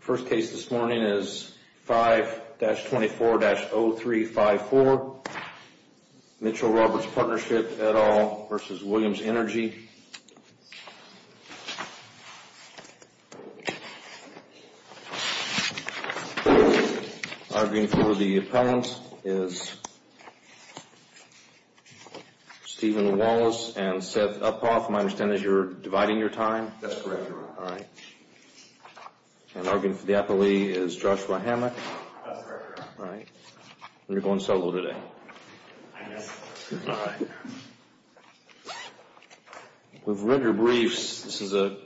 First case this morning is 5-24-0354, Mitchell-Roberts Partnership, et al. v. Williamson Energy. Arguing for the opponents is Stephen Wallace and Seth Uphoff. My understanding is you're dividing your time? That's correct. All right. And arguing for the appellee is Joshua Hammock. That's correct. All right. And you're going solo today? I am. All right. We've read your briefs. This is a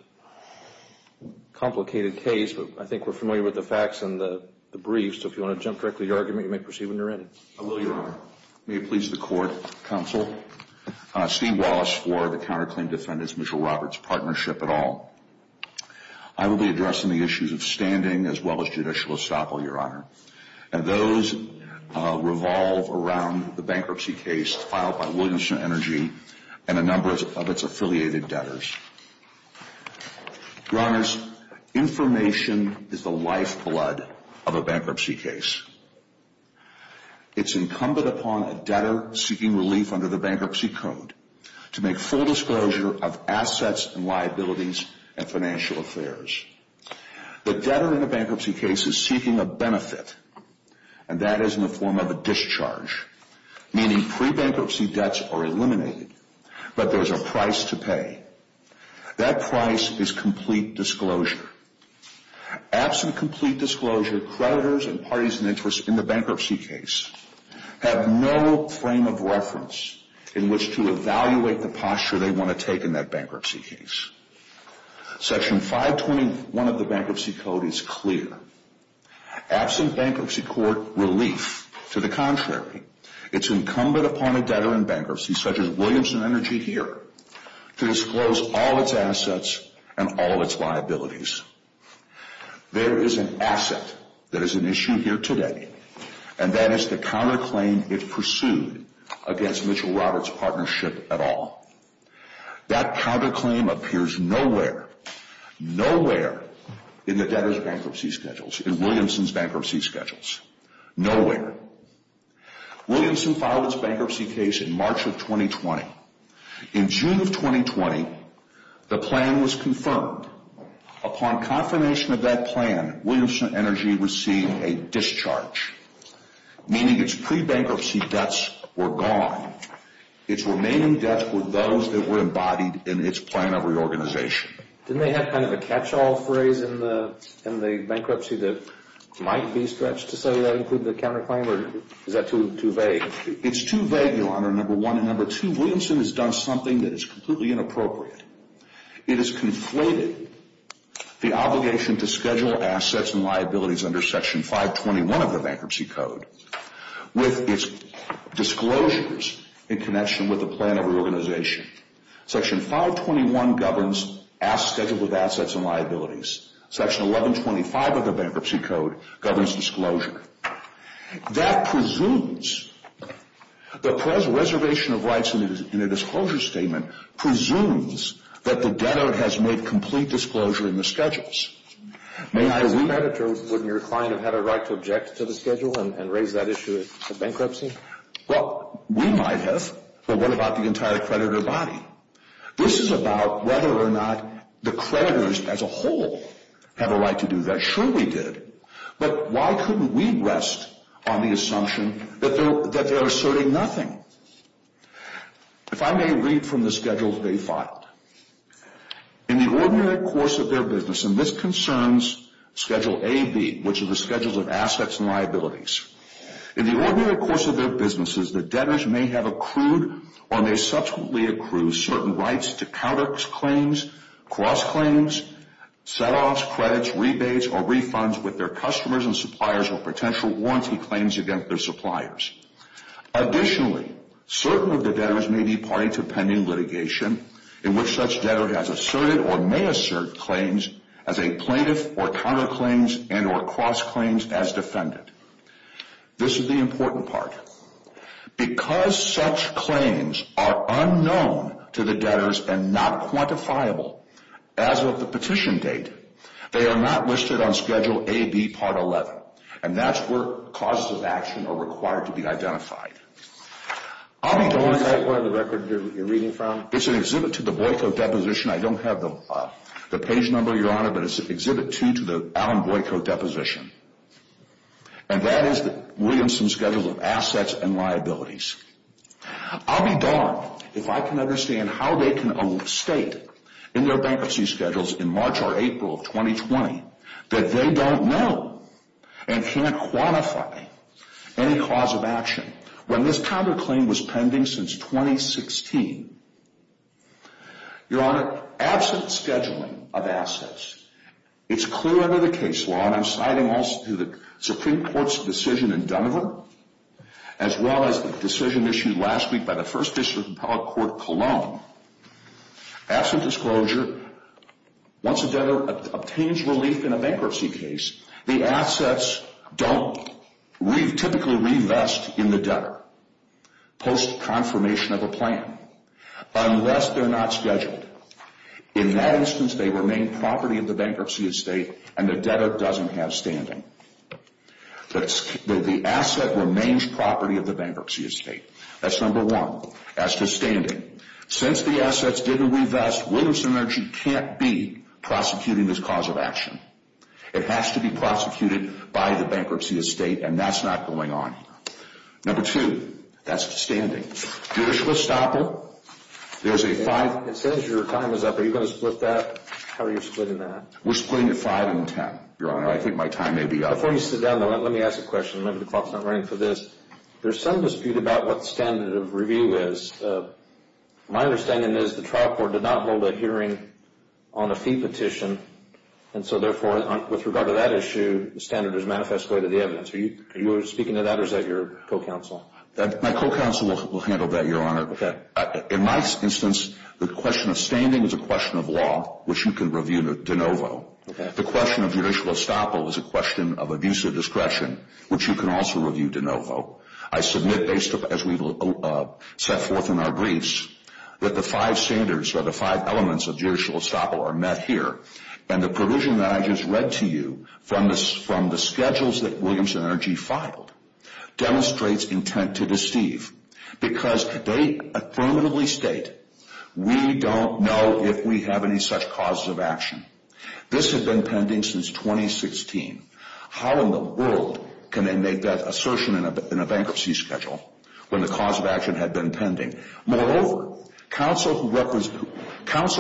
complicated case, but I think we're familiar with the facts in the briefs, so if you want to jump directly to your argument, you may proceed when you're ready. I will, Your Honor. May it please the Court, Counsel. Steve Wallace for the counterclaim defendants, Mitchell-Roberts Partnership, et al. I will be addressing the issues of standing as well as judicial estoppel, Your Honor. And those revolve around the bankruptcy case filed by Williamson Energy and a number of its affiliated debtors. Your Honors, information is the lifeblood of a bankruptcy case. It's incumbent upon a debtor seeking relief under the Bankruptcy Code to make full disclosure of assets and liabilities and financial affairs. The debtor in a bankruptcy case is seeking a benefit, and that is in the form of a discharge, meaning pre-bankruptcy debts are eliminated, but there's a price to pay. That price is complete disclosure. Absent complete disclosure, creditors and parties in interest in the bankruptcy case have no frame of reference in which to evaluate the posture they want to take in that bankruptcy case. Section 521 of the Bankruptcy Code is clear. Absent bankruptcy court relief, to the contrary, it's incumbent upon a debtor in bankruptcy, such as Williamson Energy here, to disclose all its assets and all its liabilities. There is an asset that is an issue here today, and that is the counterclaim it pursued against Mitchell-Roberts partnership at all. That counterclaim appears nowhere, nowhere in the debtor's bankruptcy schedules, in Williamson's bankruptcy schedules. Nowhere. Williamson filed its bankruptcy case in March of 2020. In June of 2020, the plan was confirmed. Upon confirmation of that plan, Williamson Energy received a discharge, meaning its pre-bankruptcy debts were gone. Its remaining debts were those that were embodied in its plan of reorganization. Didn't they have kind of a catch-all phrase in the bankruptcy that might be stretched to say that included the counterclaim, or is that too vague? It's too vague, Your Honor, number one. Williamson has done something that is completely inappropriate. It has conflated the obligation to schedule assets and liabilities under Section 521 of the Bankruptcy Code with its disclosures in connection with the plan of reorganization. Section 521 governs assets scheduled with assets and liabilities. Section 1125 of the Bankruptcy Code governs disclosure. That presumes, the preservation of rights in a disclosure statement presumes that the debtor has made complete disclosure in the schedules. May I read that? As a creditor, wouldn't your client have had a right to object to the schedule and raise that issue of bankruptcy? Well, we might have, but what about the entire creditor body? This is about whether or not the creditors as a whole have a right to do that. Sure, we did, but why couldn't we rest on the assumption that they're asserting nothing? If I may read from the schedules they filed. In the ordinary course of their business, and this concerns Schedule A, B, which are the schedules of assets and liabilities. In the ordinary course of their businesses, the debtors may have accrued or may subsequently accrue certain rights to counterclaims, cross-claims, set-offs, credits, rebates, or refunds with their customers and suppliers or potential warranty claims against their suppliers. Additionally, certain of the debtors may be party to pending litigation in which such debtor has asserted or may assert claims as a plaintiff or counterclaims and or cross-claims as defendant. This is the important part. Because such claims are unknown to the debtors and not quantifiable as of the petition date, they are not listed on Schedule A, B, Part 11. And that's where causes of action are required to be identified. I'll be honest. Is that where the record you're reading from? It's an exhibit to the Boyko Deposition. I don't have the page number, Your Honor, but it's Exhibit 2 to the Alan Boyko Deposition. And that is the Williamson Schedule of Assets and Liabilities. I'll be darned if I can understand how they can state in their bankruptcy schedules in March or April of 2020 that they don't know and can't quantify any cause of action when this counterclaim was pending since 2016. Your Honor, absent scheduling of assets, it's clear under the case law, and I'm citing also the Supreme Court's decision in Denver, as well as the decision issued last week by the First District Appellate Court, Cologne, absent disclosure, once a debtor obtains relief in a bankruptcy case, the assets don't typically reinvest in the debtor post-confirmation of a plan unless they're not scheduled. In that instance, they remain property of the bankruptcy estate, and the debtor doesn't have standing. The asset remains property of the bankruptcy estate. That's number one, as to standing. Since the assets didn't reinvest, Williamson Energy can't be prosecuting this cause of action. It has to be prosecuted by the bankruptcy estate, and that's not going on here. Number two, that's to standing. Judicial stopper, there's a five... It says your time is up. Are you going to split that? How are you splitting that? We're splitting it five and ten, Your Honor. I think my time may be up. Before you sit down, though, let me ask a question. Maybe the clock's not running for this. There's some dispute about what standard of review is. My understanding is the trial court did not hold a hearing on a fee petition, and so, therefore, with regard to that issue, the standard is manifest way to the evidence. Are you speaking to that, or is that your co-counsel? My co-counsel will handle that, Your Honor. Okay. In my instance, the question of standing is a question of law, which you can review de novo. Okay. The question of judicial stopper is a question of abuse of discretion, which you can also review de novo. I submit, as we set forth in our briefs, that the five standards or the five elements of judicial stopper are met here, and the provision that I just read to you from the schedules that Williams & Energy filed demonstrates intent to deceive, because they affirmatively state, we don't know if we have any such causes of action. This had been pending since 2016. How in the world can they make that assertion in a bankruptcy schedule when the cause of action had been pending? Moreover, counsel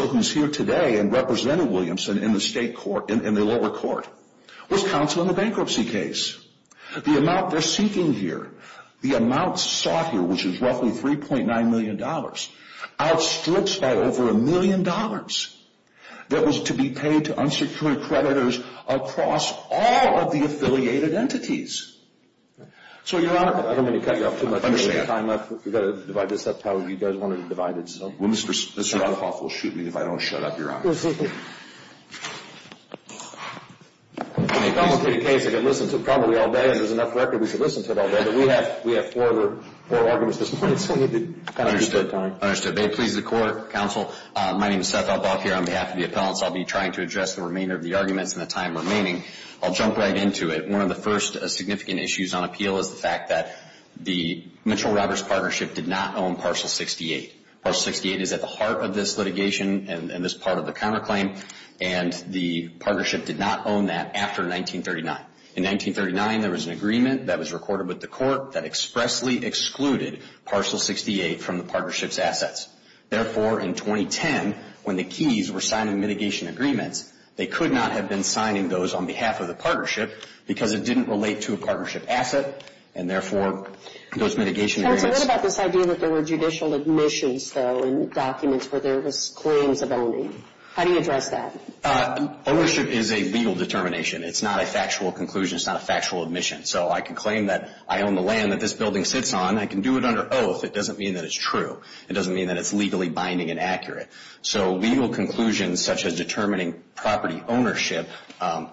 who's here today and represented Williamson in the state court, in the lower court, was counsel in the bankruptcy case. The amount they're seeking here, the amount sought here, which is roughly $3.9 million, outstrips by over a million dollars that was to be paid to unsecured creditors across all of the affiliated entities. So, Your Honor, I don't want to cut you off too much. If there's any time left, we've got to divide this up how you guys want to divide it. Mr. Althoff will shoot me if I don't shut up, Your Honor. In a complicated case, I could listen to it probably all day. If there's enough record, we should listen to it all day. But we have four arguments at this point, so we need to kind of use that time. Understood. May it please the Court, counsel, my name is Seth Althoff here. On behalf of the appellants, I'll be trying to address the remainder of the arguments in the time remaining. I'll jump right into it. One of the first significant issues on appeal is the fact that the Mitchell-Roberts partnership did not own Parcel 68. Parcel 68 is at the heart of this litigation and this part of the counterclaim, and the partnership did not own that after 1939. In 1939, there was an agreement that was recorded with the Court that expressly excluded Parcel 68 from the partnership's assets. Therefore, in 2010, when the Keys were signing mitigation agreements, they could not have been signing those on behalf of the partnership because it didn't relate to a partnership asset, and therefore those mitigation areas. Counsel, what about this idea that there were judicial admissions, though, in documents where there was claims of owning? How do you address that? Ownership is a legal determination. It's not a factual conclusion. It's not a factual admission. So I can claim that I own the land that this building sits on. I can do it under oath. It doesn't mean that it's true. It doesn't mean that it's legally binding and accurate. So legal conclusions such as determining property ownership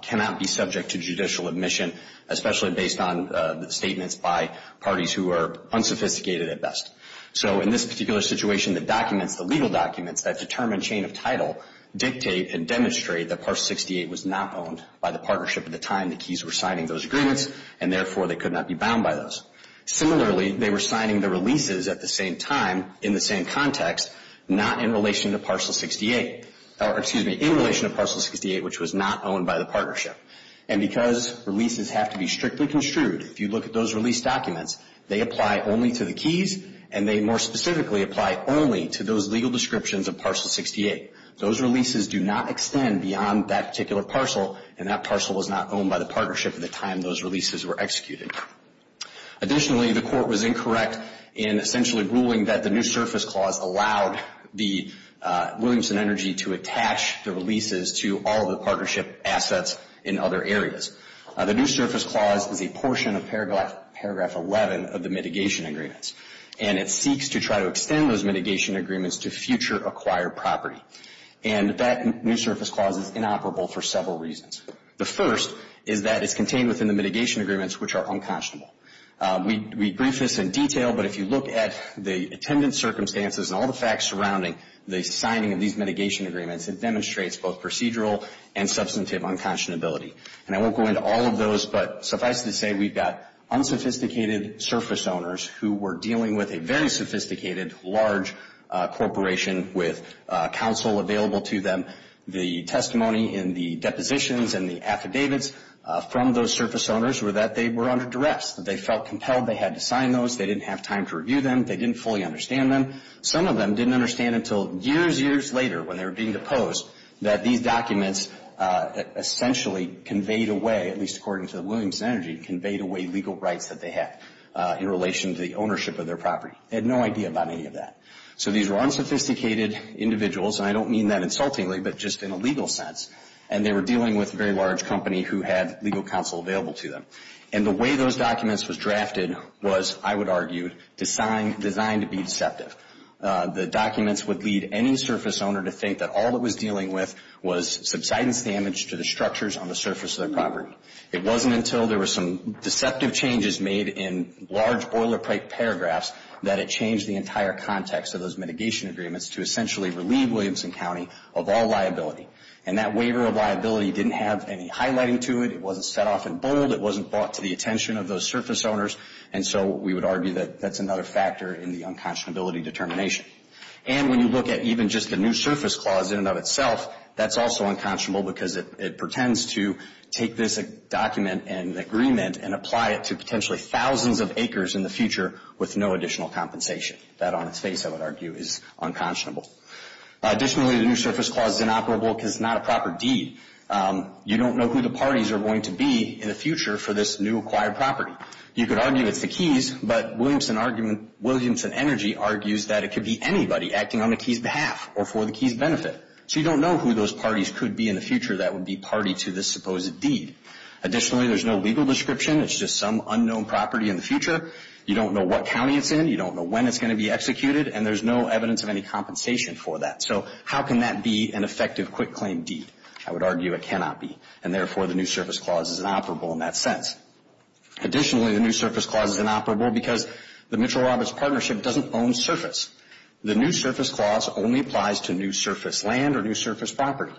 cannot be subject to judicial admission, especially based on statements by parties who are unsophisticated at best. So in this particular situation, the documents, the legal documents that determine chain of title, dictate and demonstrate that Parcel 68 was not owned by the partnership at the time the Keys were signing those agreements, and therefore they could not be bound by those. Similarly, they were signing the releases at the same time in the same context, not in relation to Parcel 68, or excuse me, in relation to Parcel 68, which was not owned by the partnership. And because releases have to be strictly construed, if you look at those release documents, they apply only to the Keys, and they more specifically apply only to those legal descriptions of Parcel 68. Those releases do not extend beyond that particular parcel, and that parcel was not owned by the partnership at the time those releases were executed. Additionally, the Court was incorrect in essentially ruling that the New Surface Clause allowed the Williamson Energy to attach the releases to all of the partnership assets in other areas. The New Surface Clause is a portion of paragraph 11 of the mitigation agreements, and it seeks to try to extend those mitigation agreements to future acquired property. And that New Surface Clause is inoperable for several reasons. The first is that it's contained within the mitigation agreements, which are unconscionable. We brief this in detail, but if you look at the attendance circumstances and all the facts surrounding the signing of these mitigation agreements, it demonstrates both procedural and substantive unconscionability. And I won't go into all of those, but suffice to say we've got unsophisticated surface owners who were dealing with a very sophisticated, large corporation with counsel available to them. The testimony in the depositions and the affidavits from those surface owners were that they were under duress, that they felt compelled, they had to sign those, they didn't have time to review them, they didn't fully understand them. Some of them didn't understand until years, years later, when they were being deposed, that these documents essentially conveyed away, at least according to the Williamson Energy, conveyed away legal rights that they had in relation to the ownership of their property. They had no idea about any of that. So these were unsophisticated individuals, and I don't mean that insultingly, but just in a legal sense, and they were dealing with a very large company who had legal counsel available to them. And the way those documents was drafted was, I would argue, designed to be deceptive. The documents would lead any surface owner to think that all it was dealing with was subsidence damage to the structures on the surface of their property. It wasn't until there were some deceptive changes made in large boilerplate paragraphs that it changed the entire context of those mitigation agreements to essentially relieve Williamson County of all liability. And that waiver of liability didn't have any highlighting to it, it wasn't set off in bold, it wasn't brought to the attention of those surface owners, and so we would argue that that's another factor in the unconscionability determination. And when you look at even just the new surface clause in and of itself, that's also unconscionable because it pretends to take this document and agreement and apply it to potentially thousands of acres in the future with no additional compensation. That on its face, I would argue, is unconscionable. Additionally, the new surface clause is inoperable because it's not a proper deed. You don't know who the parties are going to be in the future for this new acquired property. You could argue it's the Keys, but Williamson argument, Williamson Energy argues that it could be anybody acting on the Keys' behalf or for the Keys' benefit. So you don't know who those parties could be in the future that would be party to this supposed deed. Additionally, there's no legal description, it's just some unknown property in the future. You don't know what county it's in, you don't know when it's going to be executed, and there's no evidence of any compensation for that. So how can that be an effective quitclaim deed? I would argue it cannot be, and therefore the new surface clause is inoperable in that sense. Additionally, the new surface clause is inoperable because the Mitchell-Roberts partnership doesn't own surface. The new surface clause only applies to new surface land or new surface property,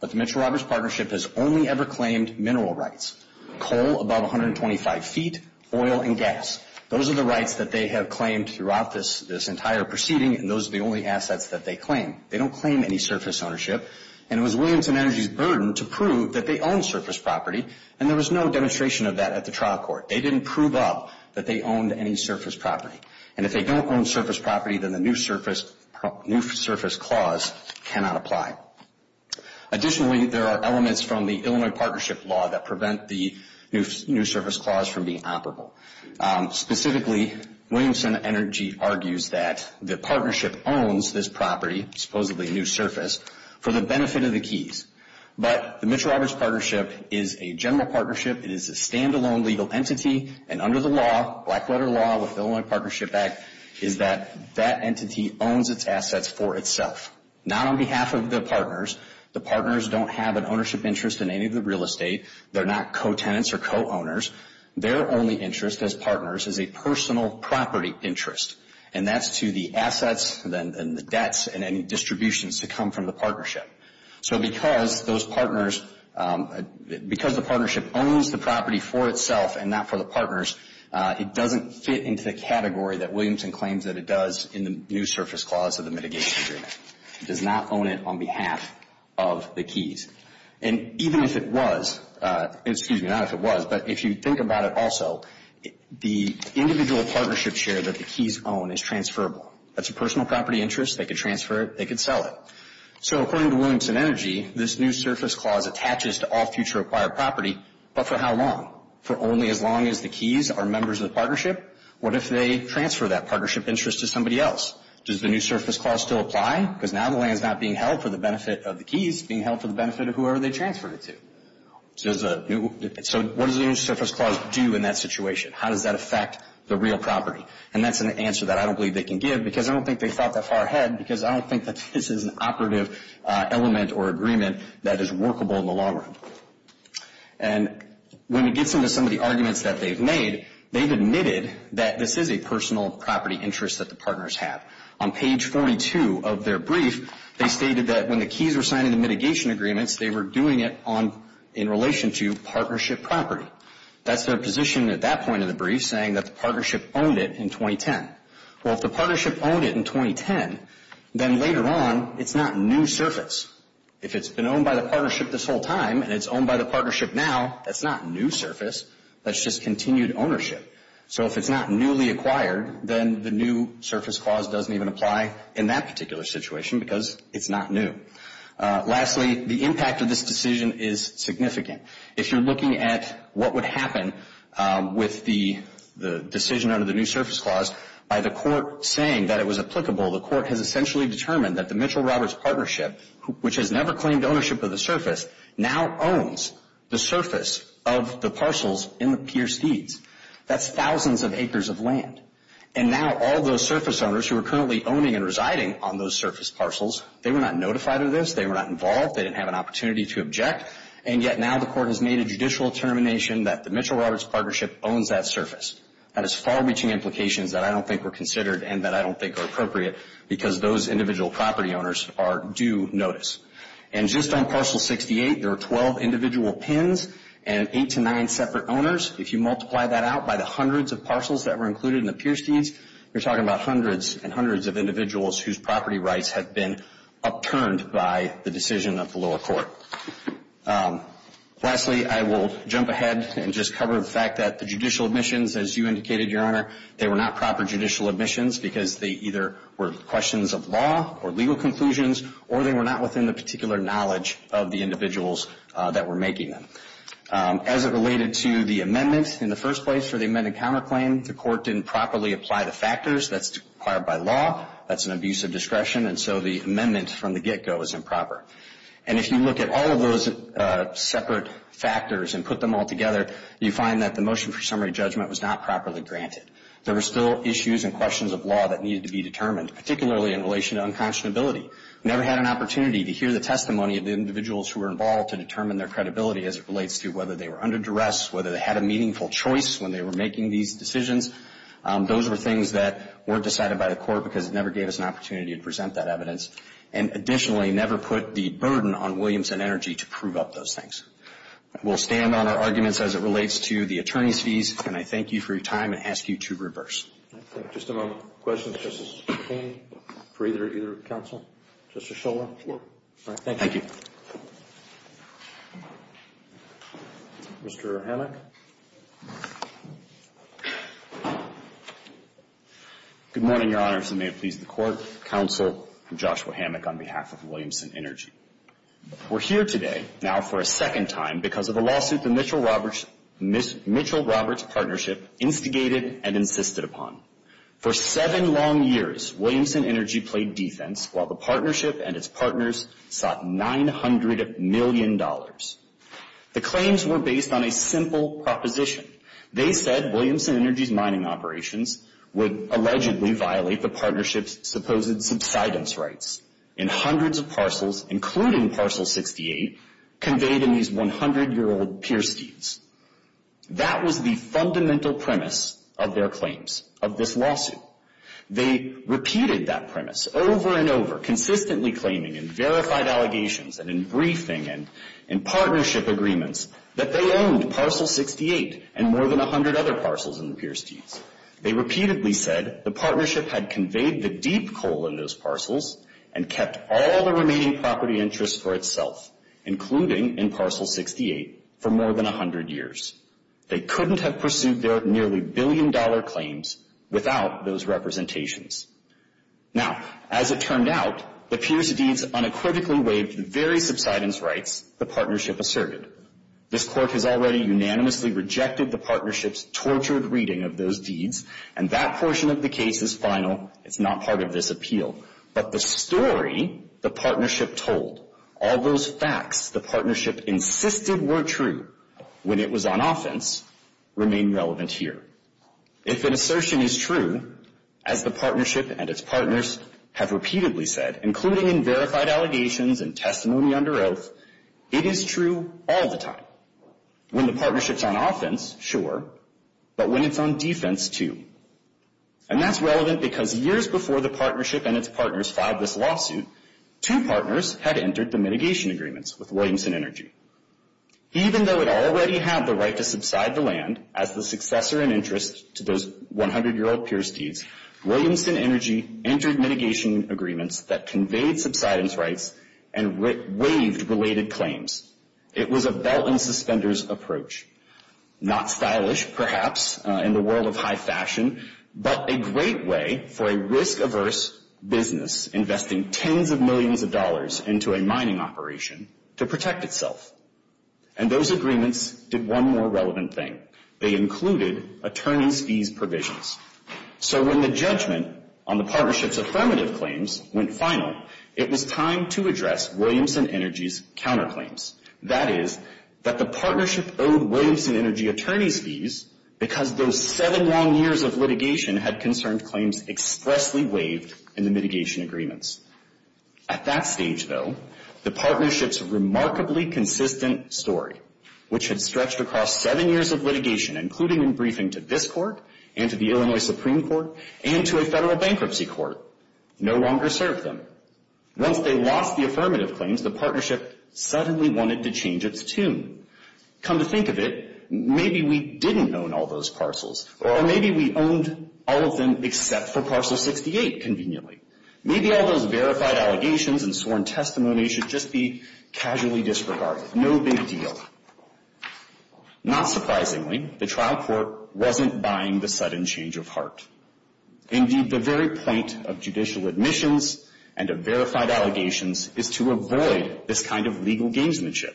but the Mitchell-Roberts partnership has only ever claimed mineral rights, coal above 125 feet, oil and gas. Those are the rights that they have claimed throughout this entire proceeding, and those are the only assets that they claim. They don't claim any surface ownership, and it was Williamson Energy's burden to prove that they own surface property, and there was no demonstration of that at the trial court. They didn't prove up that they owned any surface property, and if they don't own surface property, then the new surface clause cannot apply. Additionally, there are elements from the Illinois partnership law that prevent the new surface clause from being operable. Specifically, Williamson Energy argues that the partnership owns this property, supposedly a new surface, for the benefit of the keys. But the Mitchell-Roberts partnership is a general partnership. It is a standalone legal entity, and under the law, black letter law with Illinois Partnership Act, is that that entity owns its assets for itself. Not on behalf of the partners. The partners don't have an ownership interest in any of the real estate. They're not co-tenants or co-owners. Their only interest as partners is a personal property interest, and that's to the assets and the debts and any distributions to come from the partnership. So because those partners, because the partnership owns the property for itself and not for the partners, it doesn't fit into the category that Williamson claims that it does in the new surface clause of the mitigation agreement. It does not own it on behalf of the keys. And even if it was, excuse me, not if it was, but if you think about it also, the individual partnership share that the keys own is transferable. That's a personal property interest. They could transfer it. They could sell it. So according to Williamson Energy, this new surface clause attaches to all future acquired property, but for how long? For only as long as the keys are members of the partnership? What if they transfer that partnership interest to somebody else? Does the new surface clause still apply? Because now the land is not being held for the benefit of the keys, it's being held for the benefit of whoever they transferred it to. So what does the new surface clause do in that situation? How does that affect the real property? And that's an answer that I don't believe they can give because I don't think they thought that far ahead because I don't think that this is an operative element or agreement that is workable in the long run. And when it gets into some of the arguments that they've made, they've admitted that this is a personal property interest that the partners have. On page 42 of their brief, they stated that when the keys were signed into mitigation agreements, they were doing it in relation to partnership property. That's their position at that point in the brief, saying that the partnership owned it in 2010. Well, if the partnership owned it in 2010, then later on it's not new surface. If it's been owned by the partnership this whole time and it's owned by the partnership now, that's not new surface, that's just continued ownership. So if it's not newly acquired, then the new surface clause doesn't even apply in that particular situation because it's not new. Lastly, the impact of this decision is significant. If you're looking at what would happen with the decision under the new surface clause, by the court saying that it was applicable, the court has essentially determined that the Mitchell-Roberts partnership, which has never claimed ownership of the surface, now owns the surface of the parcels in the Pierce Feeds. That's thousands of acres of land. And now all those surface owners who are currently owning and residing on those surface parcels, they were not notified of this, they were not involved, they didn't have an opportunity to object, and yet now the court has made a judicial determination that the Mitchell-Roberts partnership owns that surface. That has far-reaching implications that I don't think were considered and that I don't think are appropriate because those individual property owners are due notice. And just on parcel 68, there are 12 individual pins and 8 to 9 separate owners. If you multiply that out by the hundreds of parcels that were included in the Pierce Feeds, you're talking about hundreds and hundreds of individuals whose property rights have been upturned by the decision of the lower court. Lastly, I will jump ahead and just cover the fact that the judicial admissions, as you indicated, Your Honor, they were not proper judicial admissions because they either were questions of law or legal conclusions or they were not within the particular knowledge of the individuals that were making them. As it related to the amendments in the first place for the amended counterclaim, the court didn't properly apply the factors that's required by law. That's an abuse of discretion, and so the amendment from the get-go is improper. And if you look at all of those separate factors and put them all together, you find that the motion for summary judgment was not properly granted. There were still issues and questions of law that needed to be determined, particularly in relation to unconscionability. We never had an opportunity to hear the testimony of the individuals who were involved to determine their credibility as it relates to whether they were under duress, whether they had a meaningful choice when they were making these decisions. Those were things that weren't decided by the court because it never gave us an opportunity to present that evidence. And additionally, never put the burden on Williams and Energy to prove up those things. We'll stand on our arguments as it relates to the attorney's fees, and I thank you for your time and ask you to reverse. Just a moment. Questions, Justice Kagan, for either counsel? Justice Schiller? No. All right. Thank you. Mr. Hammack? Good morning, Your Honors, and may it please the Court. Counsel Joshua Hammack on behalf of Williams and Energy. We're here today now for a second time because of a lawsuit the Mitchell-Roberts Partnership instigated and insisted upon. For seven long years, Williams and Energy played defense while the partnership and its partners sought $900 million. The claims were based on a simple proposition. They said Williams and Energy's mining operations would allegedly violate the partnership's supposed subsidence rights in hundreds of parcels, including Parcel 68, conveyed in these 100-year-old pier steeds. That was the fundamental premise of their claims, of this lawsuit. They repeated that premise over and over, consistently claiming in verified allegations and in briefing and in partnership agreements that they owned Parcel 68 and more than 100 other parcels in the pier steeds. They repeatedly said the partnership had conveyed the deep coal in those parcels and kept all the remaining property interests for itself, including in Parcel 68, for more than 100 years. They couldn't have pursued their nearly billion-dollar claims without those representations. Now, as it turned out, the pier steeds unequivocally waived the very subsidence rights the partnership asserted. This Court has already unanimously rejected the partnership's tortured reading of those deeds, and that portion of the case is final. It's not part of this appeal. But the story the partnership told, all those facts the partnership insisted were true when it was on offense, remain relevant here. If an assertion is true, as the partnership and its partners have repeatedly said, including in verified allegations and testimony under oath, it is true all the time. When the partnership's on offense, sure, but when it's on defense, too. And that's relevant because years before the partnership and its partners filed this lawsuit, two partners had entered the mitigation agreements with Williamson Energy. Even though it already had the right to subside the land as the successor and interest to those 100-year-old pier steeds, Williamson Energy entered mitigation agreements that conveyed subsidence rights and waived related claims. It was a belt-and-suspenders approach. Not stylish, perhaps, in the world of high fashion, but a great way for a risk-averse business investing tens of millions of dollars into a mining operation to protect itself. And those agreements did one more relevant thing. They included attorney's fees provisions. So when the judgment on the partnership's affirmative claims went final, it was time to address Williamson Energy's counterclaims. That is, that the partnership owed Williamson Energy attorney's fees because those seven long years of litigation had concerned claims expressly waived in the mitigation agreements. At that stage, though, the partnership's remarkably consistent story, which had stretched across seven years of litigation, including in briefing to this court and to the Illinois Supreme Court and to a federal bankruptcy court, no longer served them. Once they lost the affirmative claims, the partnership suddenly wanted to change its tune. Come to think of it, maybe we didn't own all those parcels, or maybe we owned all of them except for parcel 68 conveniently. Maybe all those verified allegations and sworn testimony should just be casually disregarded. No big deal. Not surprisingly, the trial court wasn't buying the sudden change of heart. Indeed, the very point of judicial admissions and of verified allegations is to avoid this kind of legal gamesmanship,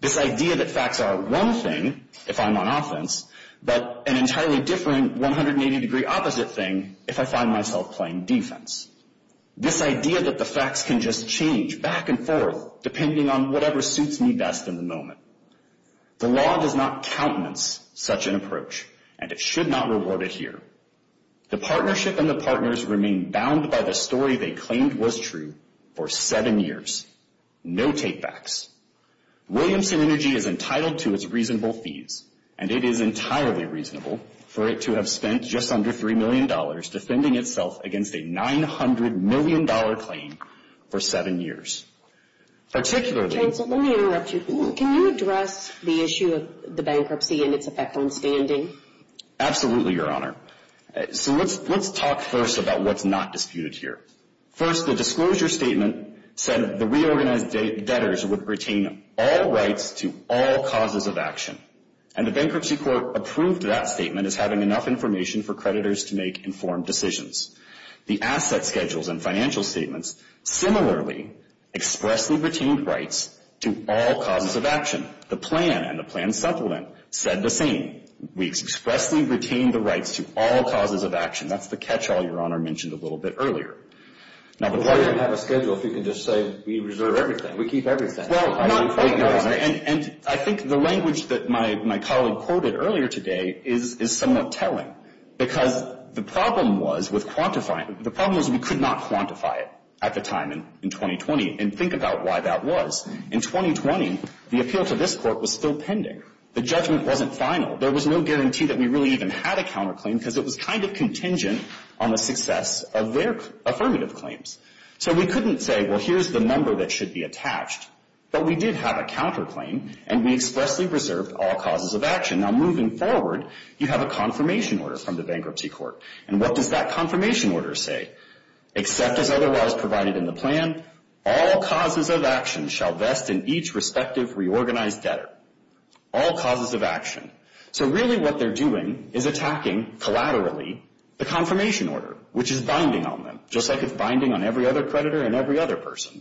this idea that facts are one thing if I'm on offense, but an entirely different 180-degree opposite thing if I find myself playing defense, this idea that the facts can just change back and forth depending on whatever suits me best in the moment. The law does not countenance such an approach, and it should not reward it here. The partnership and the partners remain bound by the story they claimed was true for seven years. No take-backs. Williamson Energy is entitled to its reasonable fees, and it is entirely reasonable for it to have spent just under $3 million defending itself against a $900 million claim for seven years. Particularly— Counsel, let me interrupt you. Can you address the issue of the bankruptcy and its effect on standing? Absolutely, Your Honor. So let's talk first about what's not disputed here. First, the disclosure statement said the reorganized debtors would retain all rights to all causes of action, and the bankruptcy court approved that statement as having enough information for creditors to make informed decisions. The asset schedules and financial statements similarly expressly retained rights to all causes of action. The plan and the plan's supplement said the same. We expressly retained the rights to all causes of action. That's the catch-all Your Honor mentioned a little bit earlier. Well, we don't have a schedule if you can just say we reserve everything. We keep everything. Well, not quite, Your Honor. And I think the language that my colleague quoted earlier today is somewhat telling, because the problem was with quantifying it. The problem was we could not quantify it at the time in 2020 and think about why that was. In 2020, the appeal to this court was still pending. The judgment wasn't final. There was no guarantee that we really even had a counterclaim because it was kind of contingent on the success of their affirmative claims. So we couldn't say, well, here's the number that should be attached. But we did have a counterclaim, and we expressly reserved all causes of action. Now, moving forward, you have a confirmation order from the bankruptcy court. And what does that confirmation order say? Except as otherwise provided in the plan, all causes of action shall vest in each respective reorganized debtor. All causes of action. So really what they're doing is attacking, collaterally, the confirmation order, which is binding on them, just like it's binding on every other creditor and every other person.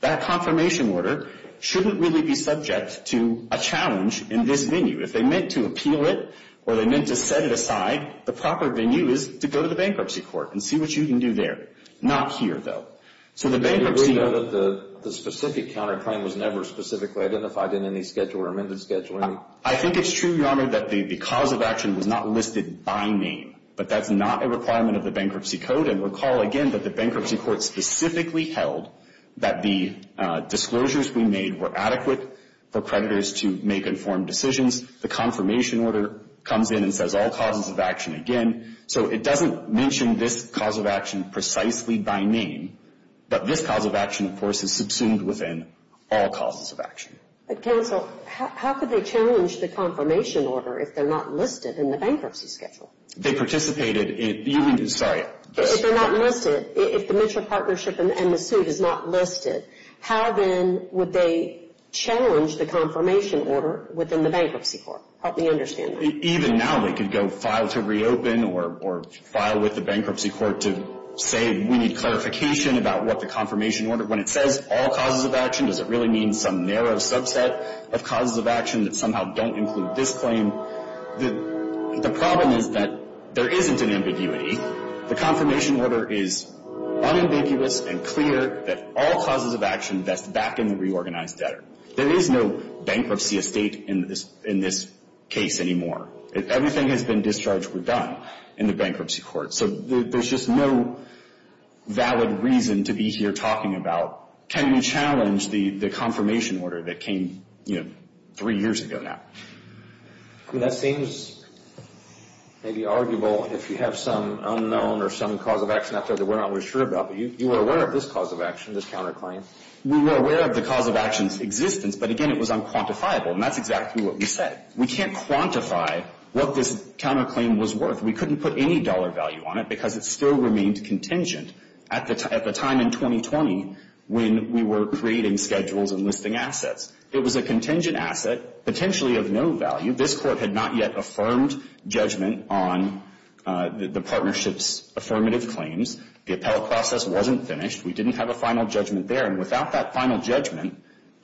That confirmation order shouldn't really be subject to a challenge in this venue. If they meant to appeal it or they meant to set it aside, the proper venue is to go to the bankruptcy court and see what you can do there. Not here, though. So the bankruptcy court— Are you aware that the specific counterclaim was never specifically identified in any schedule or amended schedule? I think it's true, Your Honor, that the cause of action was not listed by name. But that's not a requirement of the bankruptcy code. And recall, again, that the bankruptcy court specifically held that the disclosures we made were adequate for creditors to make informed decisions. The confirmation order comes in and says all causes of action again. So it doesn't mention this cause of action precisely by name. But this cause of action, of course, is subsumed within all causes of action. Counsel, how could they challenge the confirmation order if they're not listed in the bankruptcy schedule? They participated in—sorry. If they're not listed, if the mutual partnership and the suit is not listed, how then would they challenge the confirmation order within the bankruptcy court? Help me understand that. Even now they could go file to reopen or file with the bankruptcy court to say, we need clarification about what the confirmation order— when it says all causes of action, does it really mean some narrow subset of causes of action that somehow don't include this claim? The problem is that there isn't an ambiguity. The confirmation order is unambiguous and clear that all causes of action vest back in the reorganized debtor. There is no bankruptcy estate in this case anymore. Everything has been discharged or done in the bankruptcy court. So there's just no valid reason to be here talking about, can we challenge the confirmation order that came, you know, three years ago now? That seems maybe arguable if you have some unknown or some cause of action out there that we're not really sure about. But you were aware of this cause of action, this counterclaim. We were aware of the cause of action's existence. But again, it was unquantifiable. And that's exactly what we said. We can't quantify what this counterclaim was worth. We couldn't put any dollar value on it because it still remained contingent at the time in 2020 when we were creating schedules and listing assets. It was a contingent asset potentially of no value. This Court had not yet affirmed judgment on the partnership's affirmative claims. The appellate process wasn't finished. We didn't have a final judgment there. And without that final judgment,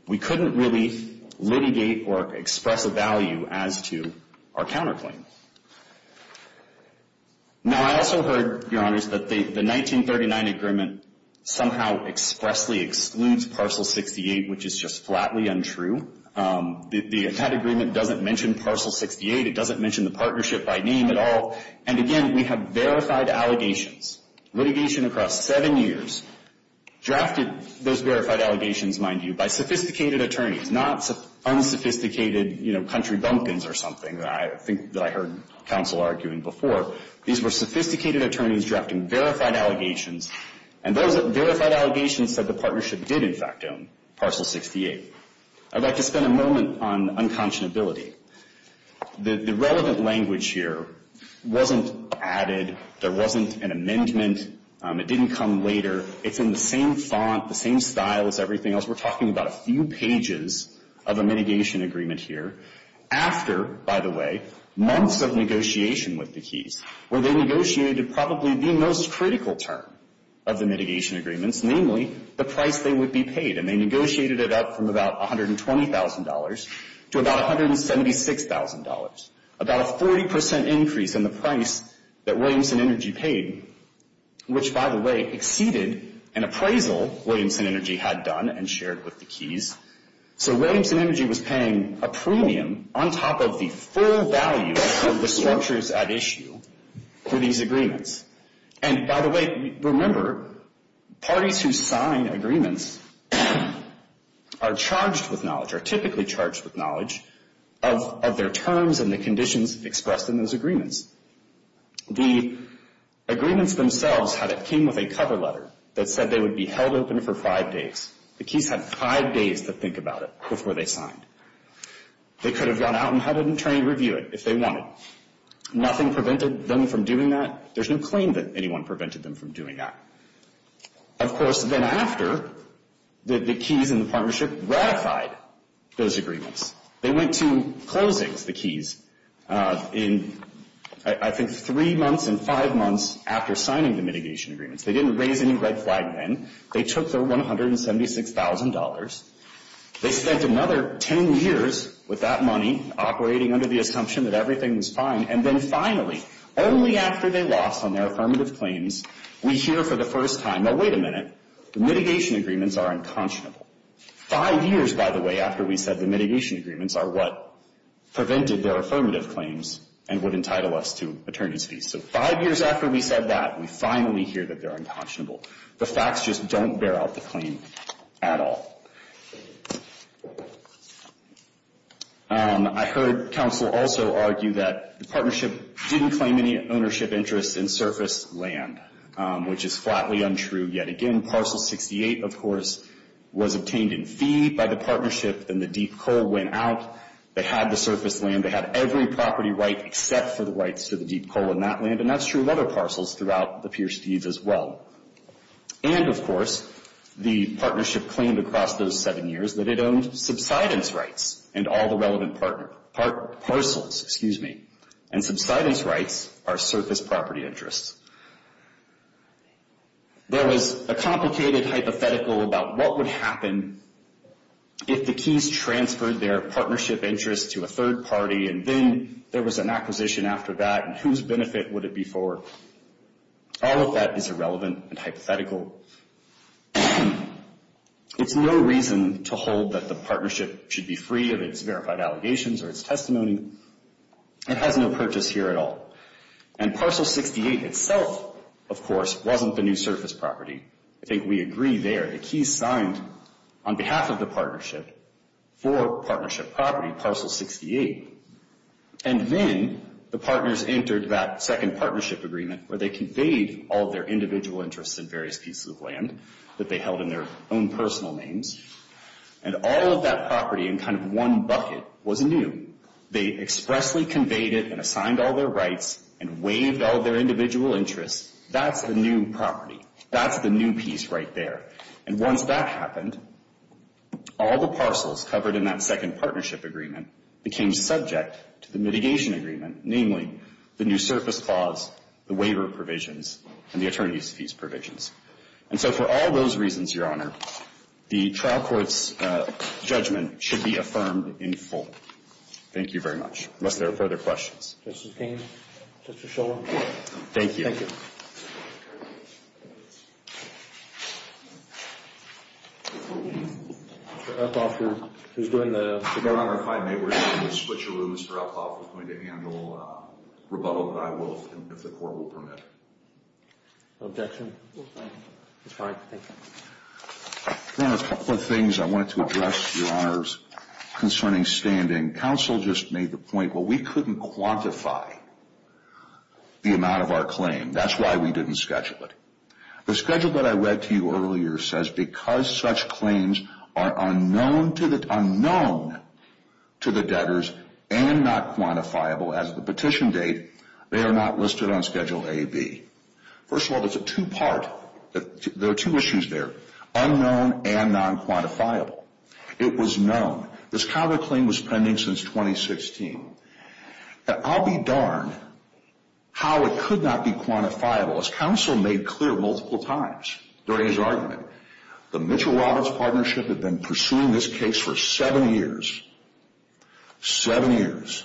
we couldn't really litigate or express a value as to our counterclaim. Now, I also heard, Your Honors, that the 1939 agreement somehow expressly excludes Parcel 68, which is just flatly untrue. That agreement doesn't mention Parcel 68. It doesn't mention the partnership by name at all. And again, we have verified allegations. Litigation across seven years drafted those verified allegations, mind you, by sophisticated attorneys, not unsophisticated, you know, country bumpkins or something that I think that I heard counsel arguing before. These were sophisticated attorneys drafting verified allegations. And those verified allegations said the partnership did, in fact, own Parcel 68. I'd like to spend a moment on unconscionability. The relevant language here wasn't added. There wasn't an amendment. It didn't come later. It's in the same font, the same style as everything else. We're talking about a few pages of a mitigation agreement here after, by the way, months of negotiation with the keys, where they negotiated probably the most critical term of the mitigation agreements, namely the price they would be paid. And they negotiated it up from about $120,000 to about $176,000, about a 40 percent increase in the price that Williamson Energy paid, which, by the way, exceeded an appraisal Williamson Energy had done and shared with the keys. So Williamson Energy was paying a premium on top of the full value of the structures at issue for these agreements. And, by the way, remember, parties who sign agreements are charged with knowledge, are typically charged with knowledge of their terms and the conditions expressed in those agreements. The agreements themselves came with a cover letter that said they would be held open for five days. The keys had five days to think about it before they signed. They could have gone out and had an attorney review it if they wanted. Nothing prevented them from doing that. There's no claim that anyone prevented them from doing that. Of course, then after, the keys and the partnership ratified those agreements. They went to closings, the keys, in, I think, three months and five months after signing the mitigation agreements. They didn't raise any red flag then. They took their $176,000. They spent another ten years with that money operating under the assumption that everything was fine. And then finally, only after they lost on their affirmative claims, we hear for the first time, now wait a minute, the mitigation agreements are unconscionable. Five years, by the way, after we said the mitigation agreements are what prevented their affirmative claims and would entitle us to attorney's fees. So five years after we said that, we finally hear that they're unconscionable. The facts just don't bear out the claim at all. I heard counsel also argue that the partnership didn't claim any ownership interest in surface land, which is flatly untrue. Yet again, Parcel 68, of course, was obtained in fee by the partnership and the deep coal went out. They had the surface land. They had every property right except for the rights to the deep coal in that land. And that's true of other parcels throughout the Pierce thieves as well. And, of course, the partnership claimed across those seven years that it owned subsidence rights and all the relevant parcels. And subsidence rights are surface property interests. There was a complicated hypothetical about what would happen if the Keys transferred their partnership interest to a third party and then there was an acquisition after that and whose benefit would it be for? All of that is irrelevant and hypothetical. It's no reason to hold that the partnership should be free of its verified allegations or its testimony. It has no purchase here at all. And Parcel 68 itself, of course, wasn't the new surface property. I think we agree there. The Keys signed on behalf of the partnership for partnership property, Parcel 68. And then the partners entered that second partnership agreement where they conveyed all their individual interests in various pieces of land that they held in their own personal names. And all of that property in kind of one bucket was new. They expressly conveyed it and assigned all their rights and waived all their individual interests. That's the new property. That's the new piece right there. And once that happened, all the parcels covered in that second partnership agreement became subject to the mitigation agreement, namely the new surface clause, the waiver provisions, and the attorneys' fees provisions. And so for all those reasons, Your Honor, the trial court's judgment should be affirmed in full. Thank you very much. Unless there are further questions. Justice King, Justice Shulman. Thank you. Thank you. Thank you. Mr. Elkoff, who's doing the Your Honor, if I may, we're going to switch rooms. Mr. Elkoff is going to handle rebuttal that I will if the court will permit. Objection. It's fine. Thank you. Your Honor, a couple of things I wanted to address, Your Honors, concerning standing. Counsel just made the point, well, we couldn't quantify the amount of our claim. That's why we didn't schedule it. The schedule that I read to you earlier says because such claims are unknown to the debtors and not quantifiable as the petition date, they are not listed on Schedule A, B. First of all, there are two issues there, unknown and nonquantifiable. It was known. This counterclaim was pending since 2016. I'll be darned how it could not be quantifiable. As counsel made clear multiple times during his argument, the Mitchell-Roberts partnership had been pursuing this case for seven years. Seven years.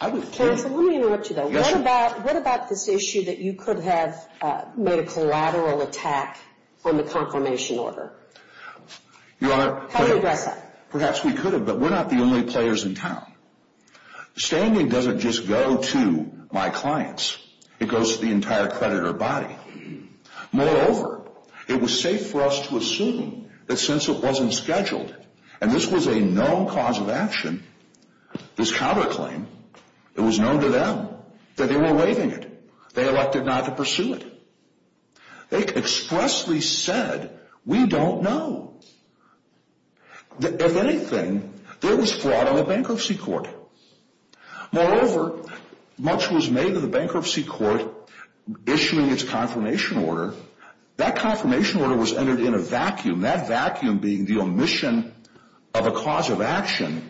Counsel, let me interrupt you there. What about this issue that you could have made a collateral attack on the confirmation order? Your Honor, perhaps we could have, but we're not the only players in town. Standing doesn't just go to my clients. It goes to the entire creditor body. Moreover, it was safe for us to assume that since it wasn't scheduled, and this was a known cause of action, this counterclaim, it was known to them that they were waiving it. They elected not to pursue it. They expressly said, we don't know. If anything, there was fraud on the bankruptcy court. Moreover, much was made of the bankruptcy court issuing its confirmation order. That confirmation order was entered in a vacuum, that vacuum being the omission of a cause of action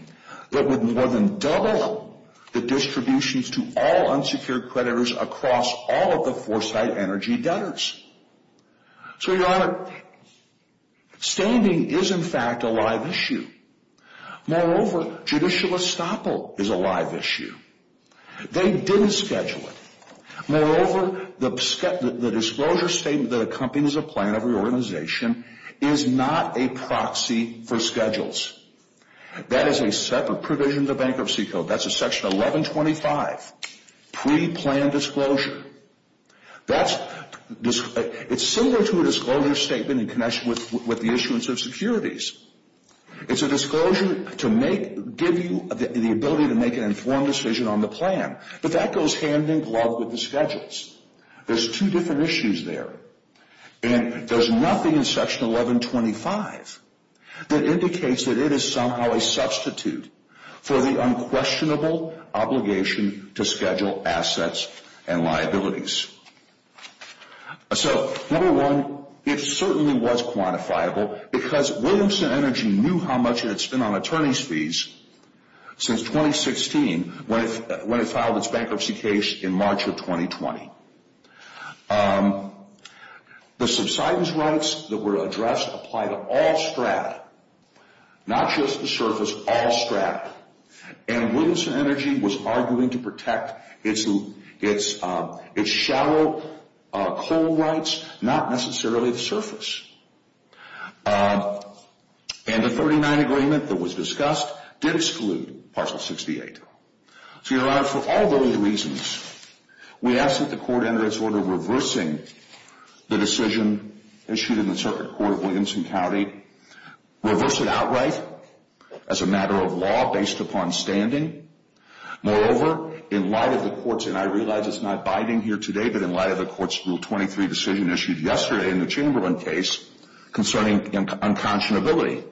that would more than double the distributions to all unsecured creditors across all of the Foresight Energy debtors. So, Your Honor, standing is, in fact, a live issue. Moreover, judicial estoppel is a live issue. They didn't schedule it. Moreover, the disclosure statement that accompanies a plan of reorganization is not a proxy for schedules. That is a separate provision of the bankruptcy code. That's a Section 1125 preplanned disclosure. It's similar to a disclosure statement in connection with the issuance of securities. It's a disclosure to give you the ability to make an informed decision on the plan. But that goes hand-in-glove with the schedules. There's two different issues there, and there's nothing in Section 1125 that indicates that it is somehow a substitute for the unquestionable obligation to schedule assets and liabilities. So, number one, it certainly was quantifiable because Williamson Energy knew how much it had spent on attorney's fees since 2016 when it filed its bankruptcy case in March of 2020. The subsidence rights that were addressed apply to all strat, not just the surface, all strat. And Williamson Energy was arguing to protect its shallow coal rights, not necessarily the surface. And the 39 agreement that was discussed did exclude Parcel 68. So, Your Honor, for all those reasons, we ask that the court enter its order reversing the decision issued in the Circuit Court of Williamson County, reverse it outright as a matter of law based upon standing. Moreover, in light of the court's, and I realize it's not binding here today, but in light of the court's Rule 23 decision issued yesterday in the Chamberlain case concerning unconscionability,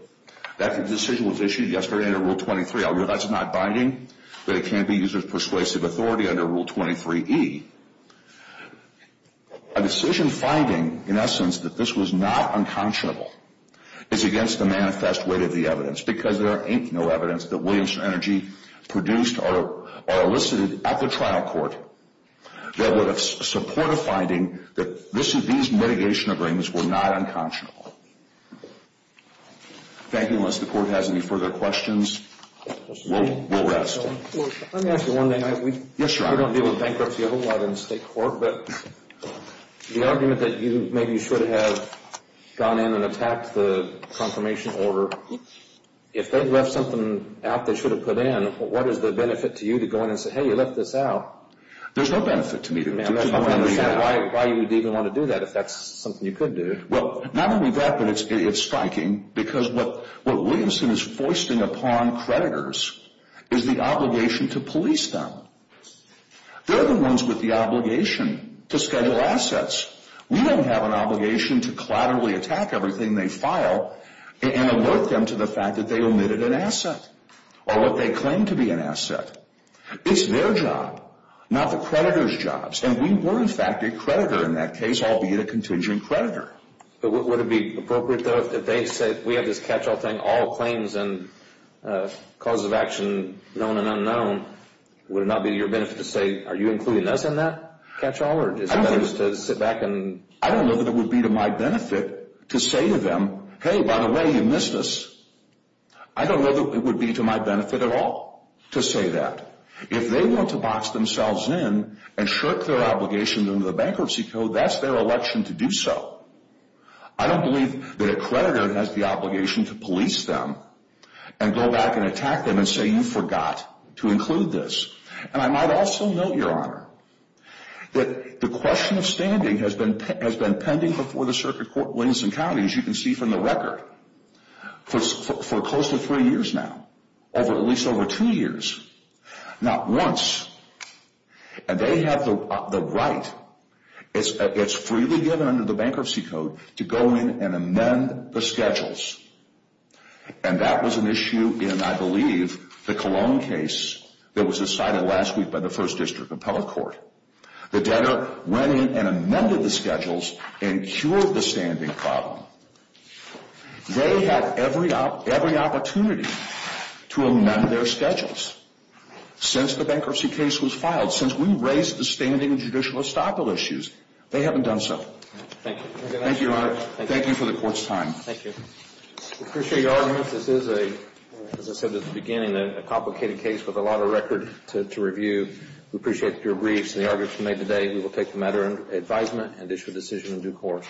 that decision was issued yesterday under Rule 23. I realize it's not binding, but it can't be used as persuasive authority under Rule 23e. A decision finding, in essence, that this was not unconscionable is against the manifest weight of the evidence because there ain't no evidence that Williamson Energy produced or elicited at the trial court that would support a finding that these mitigation agreements were not unconscionable. Thank you. Unless the court has any further questions, we'll rest. Let me ask you one thing. Yes, Your Honor. I don't deal with bankruptcy a whole lot in state court, but the argument that you maybe should have gone in and attacked the confirmation order, if they left something out they should have put in, what is the benefit to you to go in and say, hey, you left this out? There's no benefit to me to do that. I don't understand why you would even want to do that if that's something you could do. Well, not only that, but it's striking because what Williamson is foisting upon creditors is the obligation to police them. They're the ones with the obligation to schedule assets. We don't have an obligation to collaterally attack everything they file and alert them to the fact that they omitted an asset or what they claim to be an asset. It's their job, not the creditor's jobs. And we were, in fact, a creditor in that case, albeit a contingent creditor. But would it be appropriate, though, if they said, we have this catch-all thing, all claims and causes of action, known and unknown, would it not be to your benefit to say, are you including us in that catch-all? Or is it better to sit back and... I don't know that it would be to my benefit to say to them, hey, by the way, you missed us. I don't know that it would be to my benefit at all to say that. If they want to box themselves in and shirk their obligation under the bankruptcy code, that's their election to do so. I don't believe that a creditor has the obligation to police them and go back and attack them and say, you forgot to include this. And I might also note, Your Honor, that the question of standing has been pending before the Circuit Court, Williamson County, as you can see from the record, for close to three years now, at least over two years, not once. And they have the right. It's freely given under the bankruptcy code to go in and amend the schedules. And that was an issue in, I believe, the Cologne case that was decided last week by the First District Appellate Court. The debtor went in and amended the schedules and cured the standing problem. They had every opportunity to amend their schedules. Since the bankruptcy case was filed, since we raised the standing judicial estoppel issues, they haven't done so. Thank you. Thank you, Your Honor. Thank you for the Court's time. Thank you. We appreciate your arguments. This is, as I said at the beginning, a complicated case with a lot of record to review. We appreciate your briefs and the arguments you made today. We will take the matter under advisement and issue a decision in due course.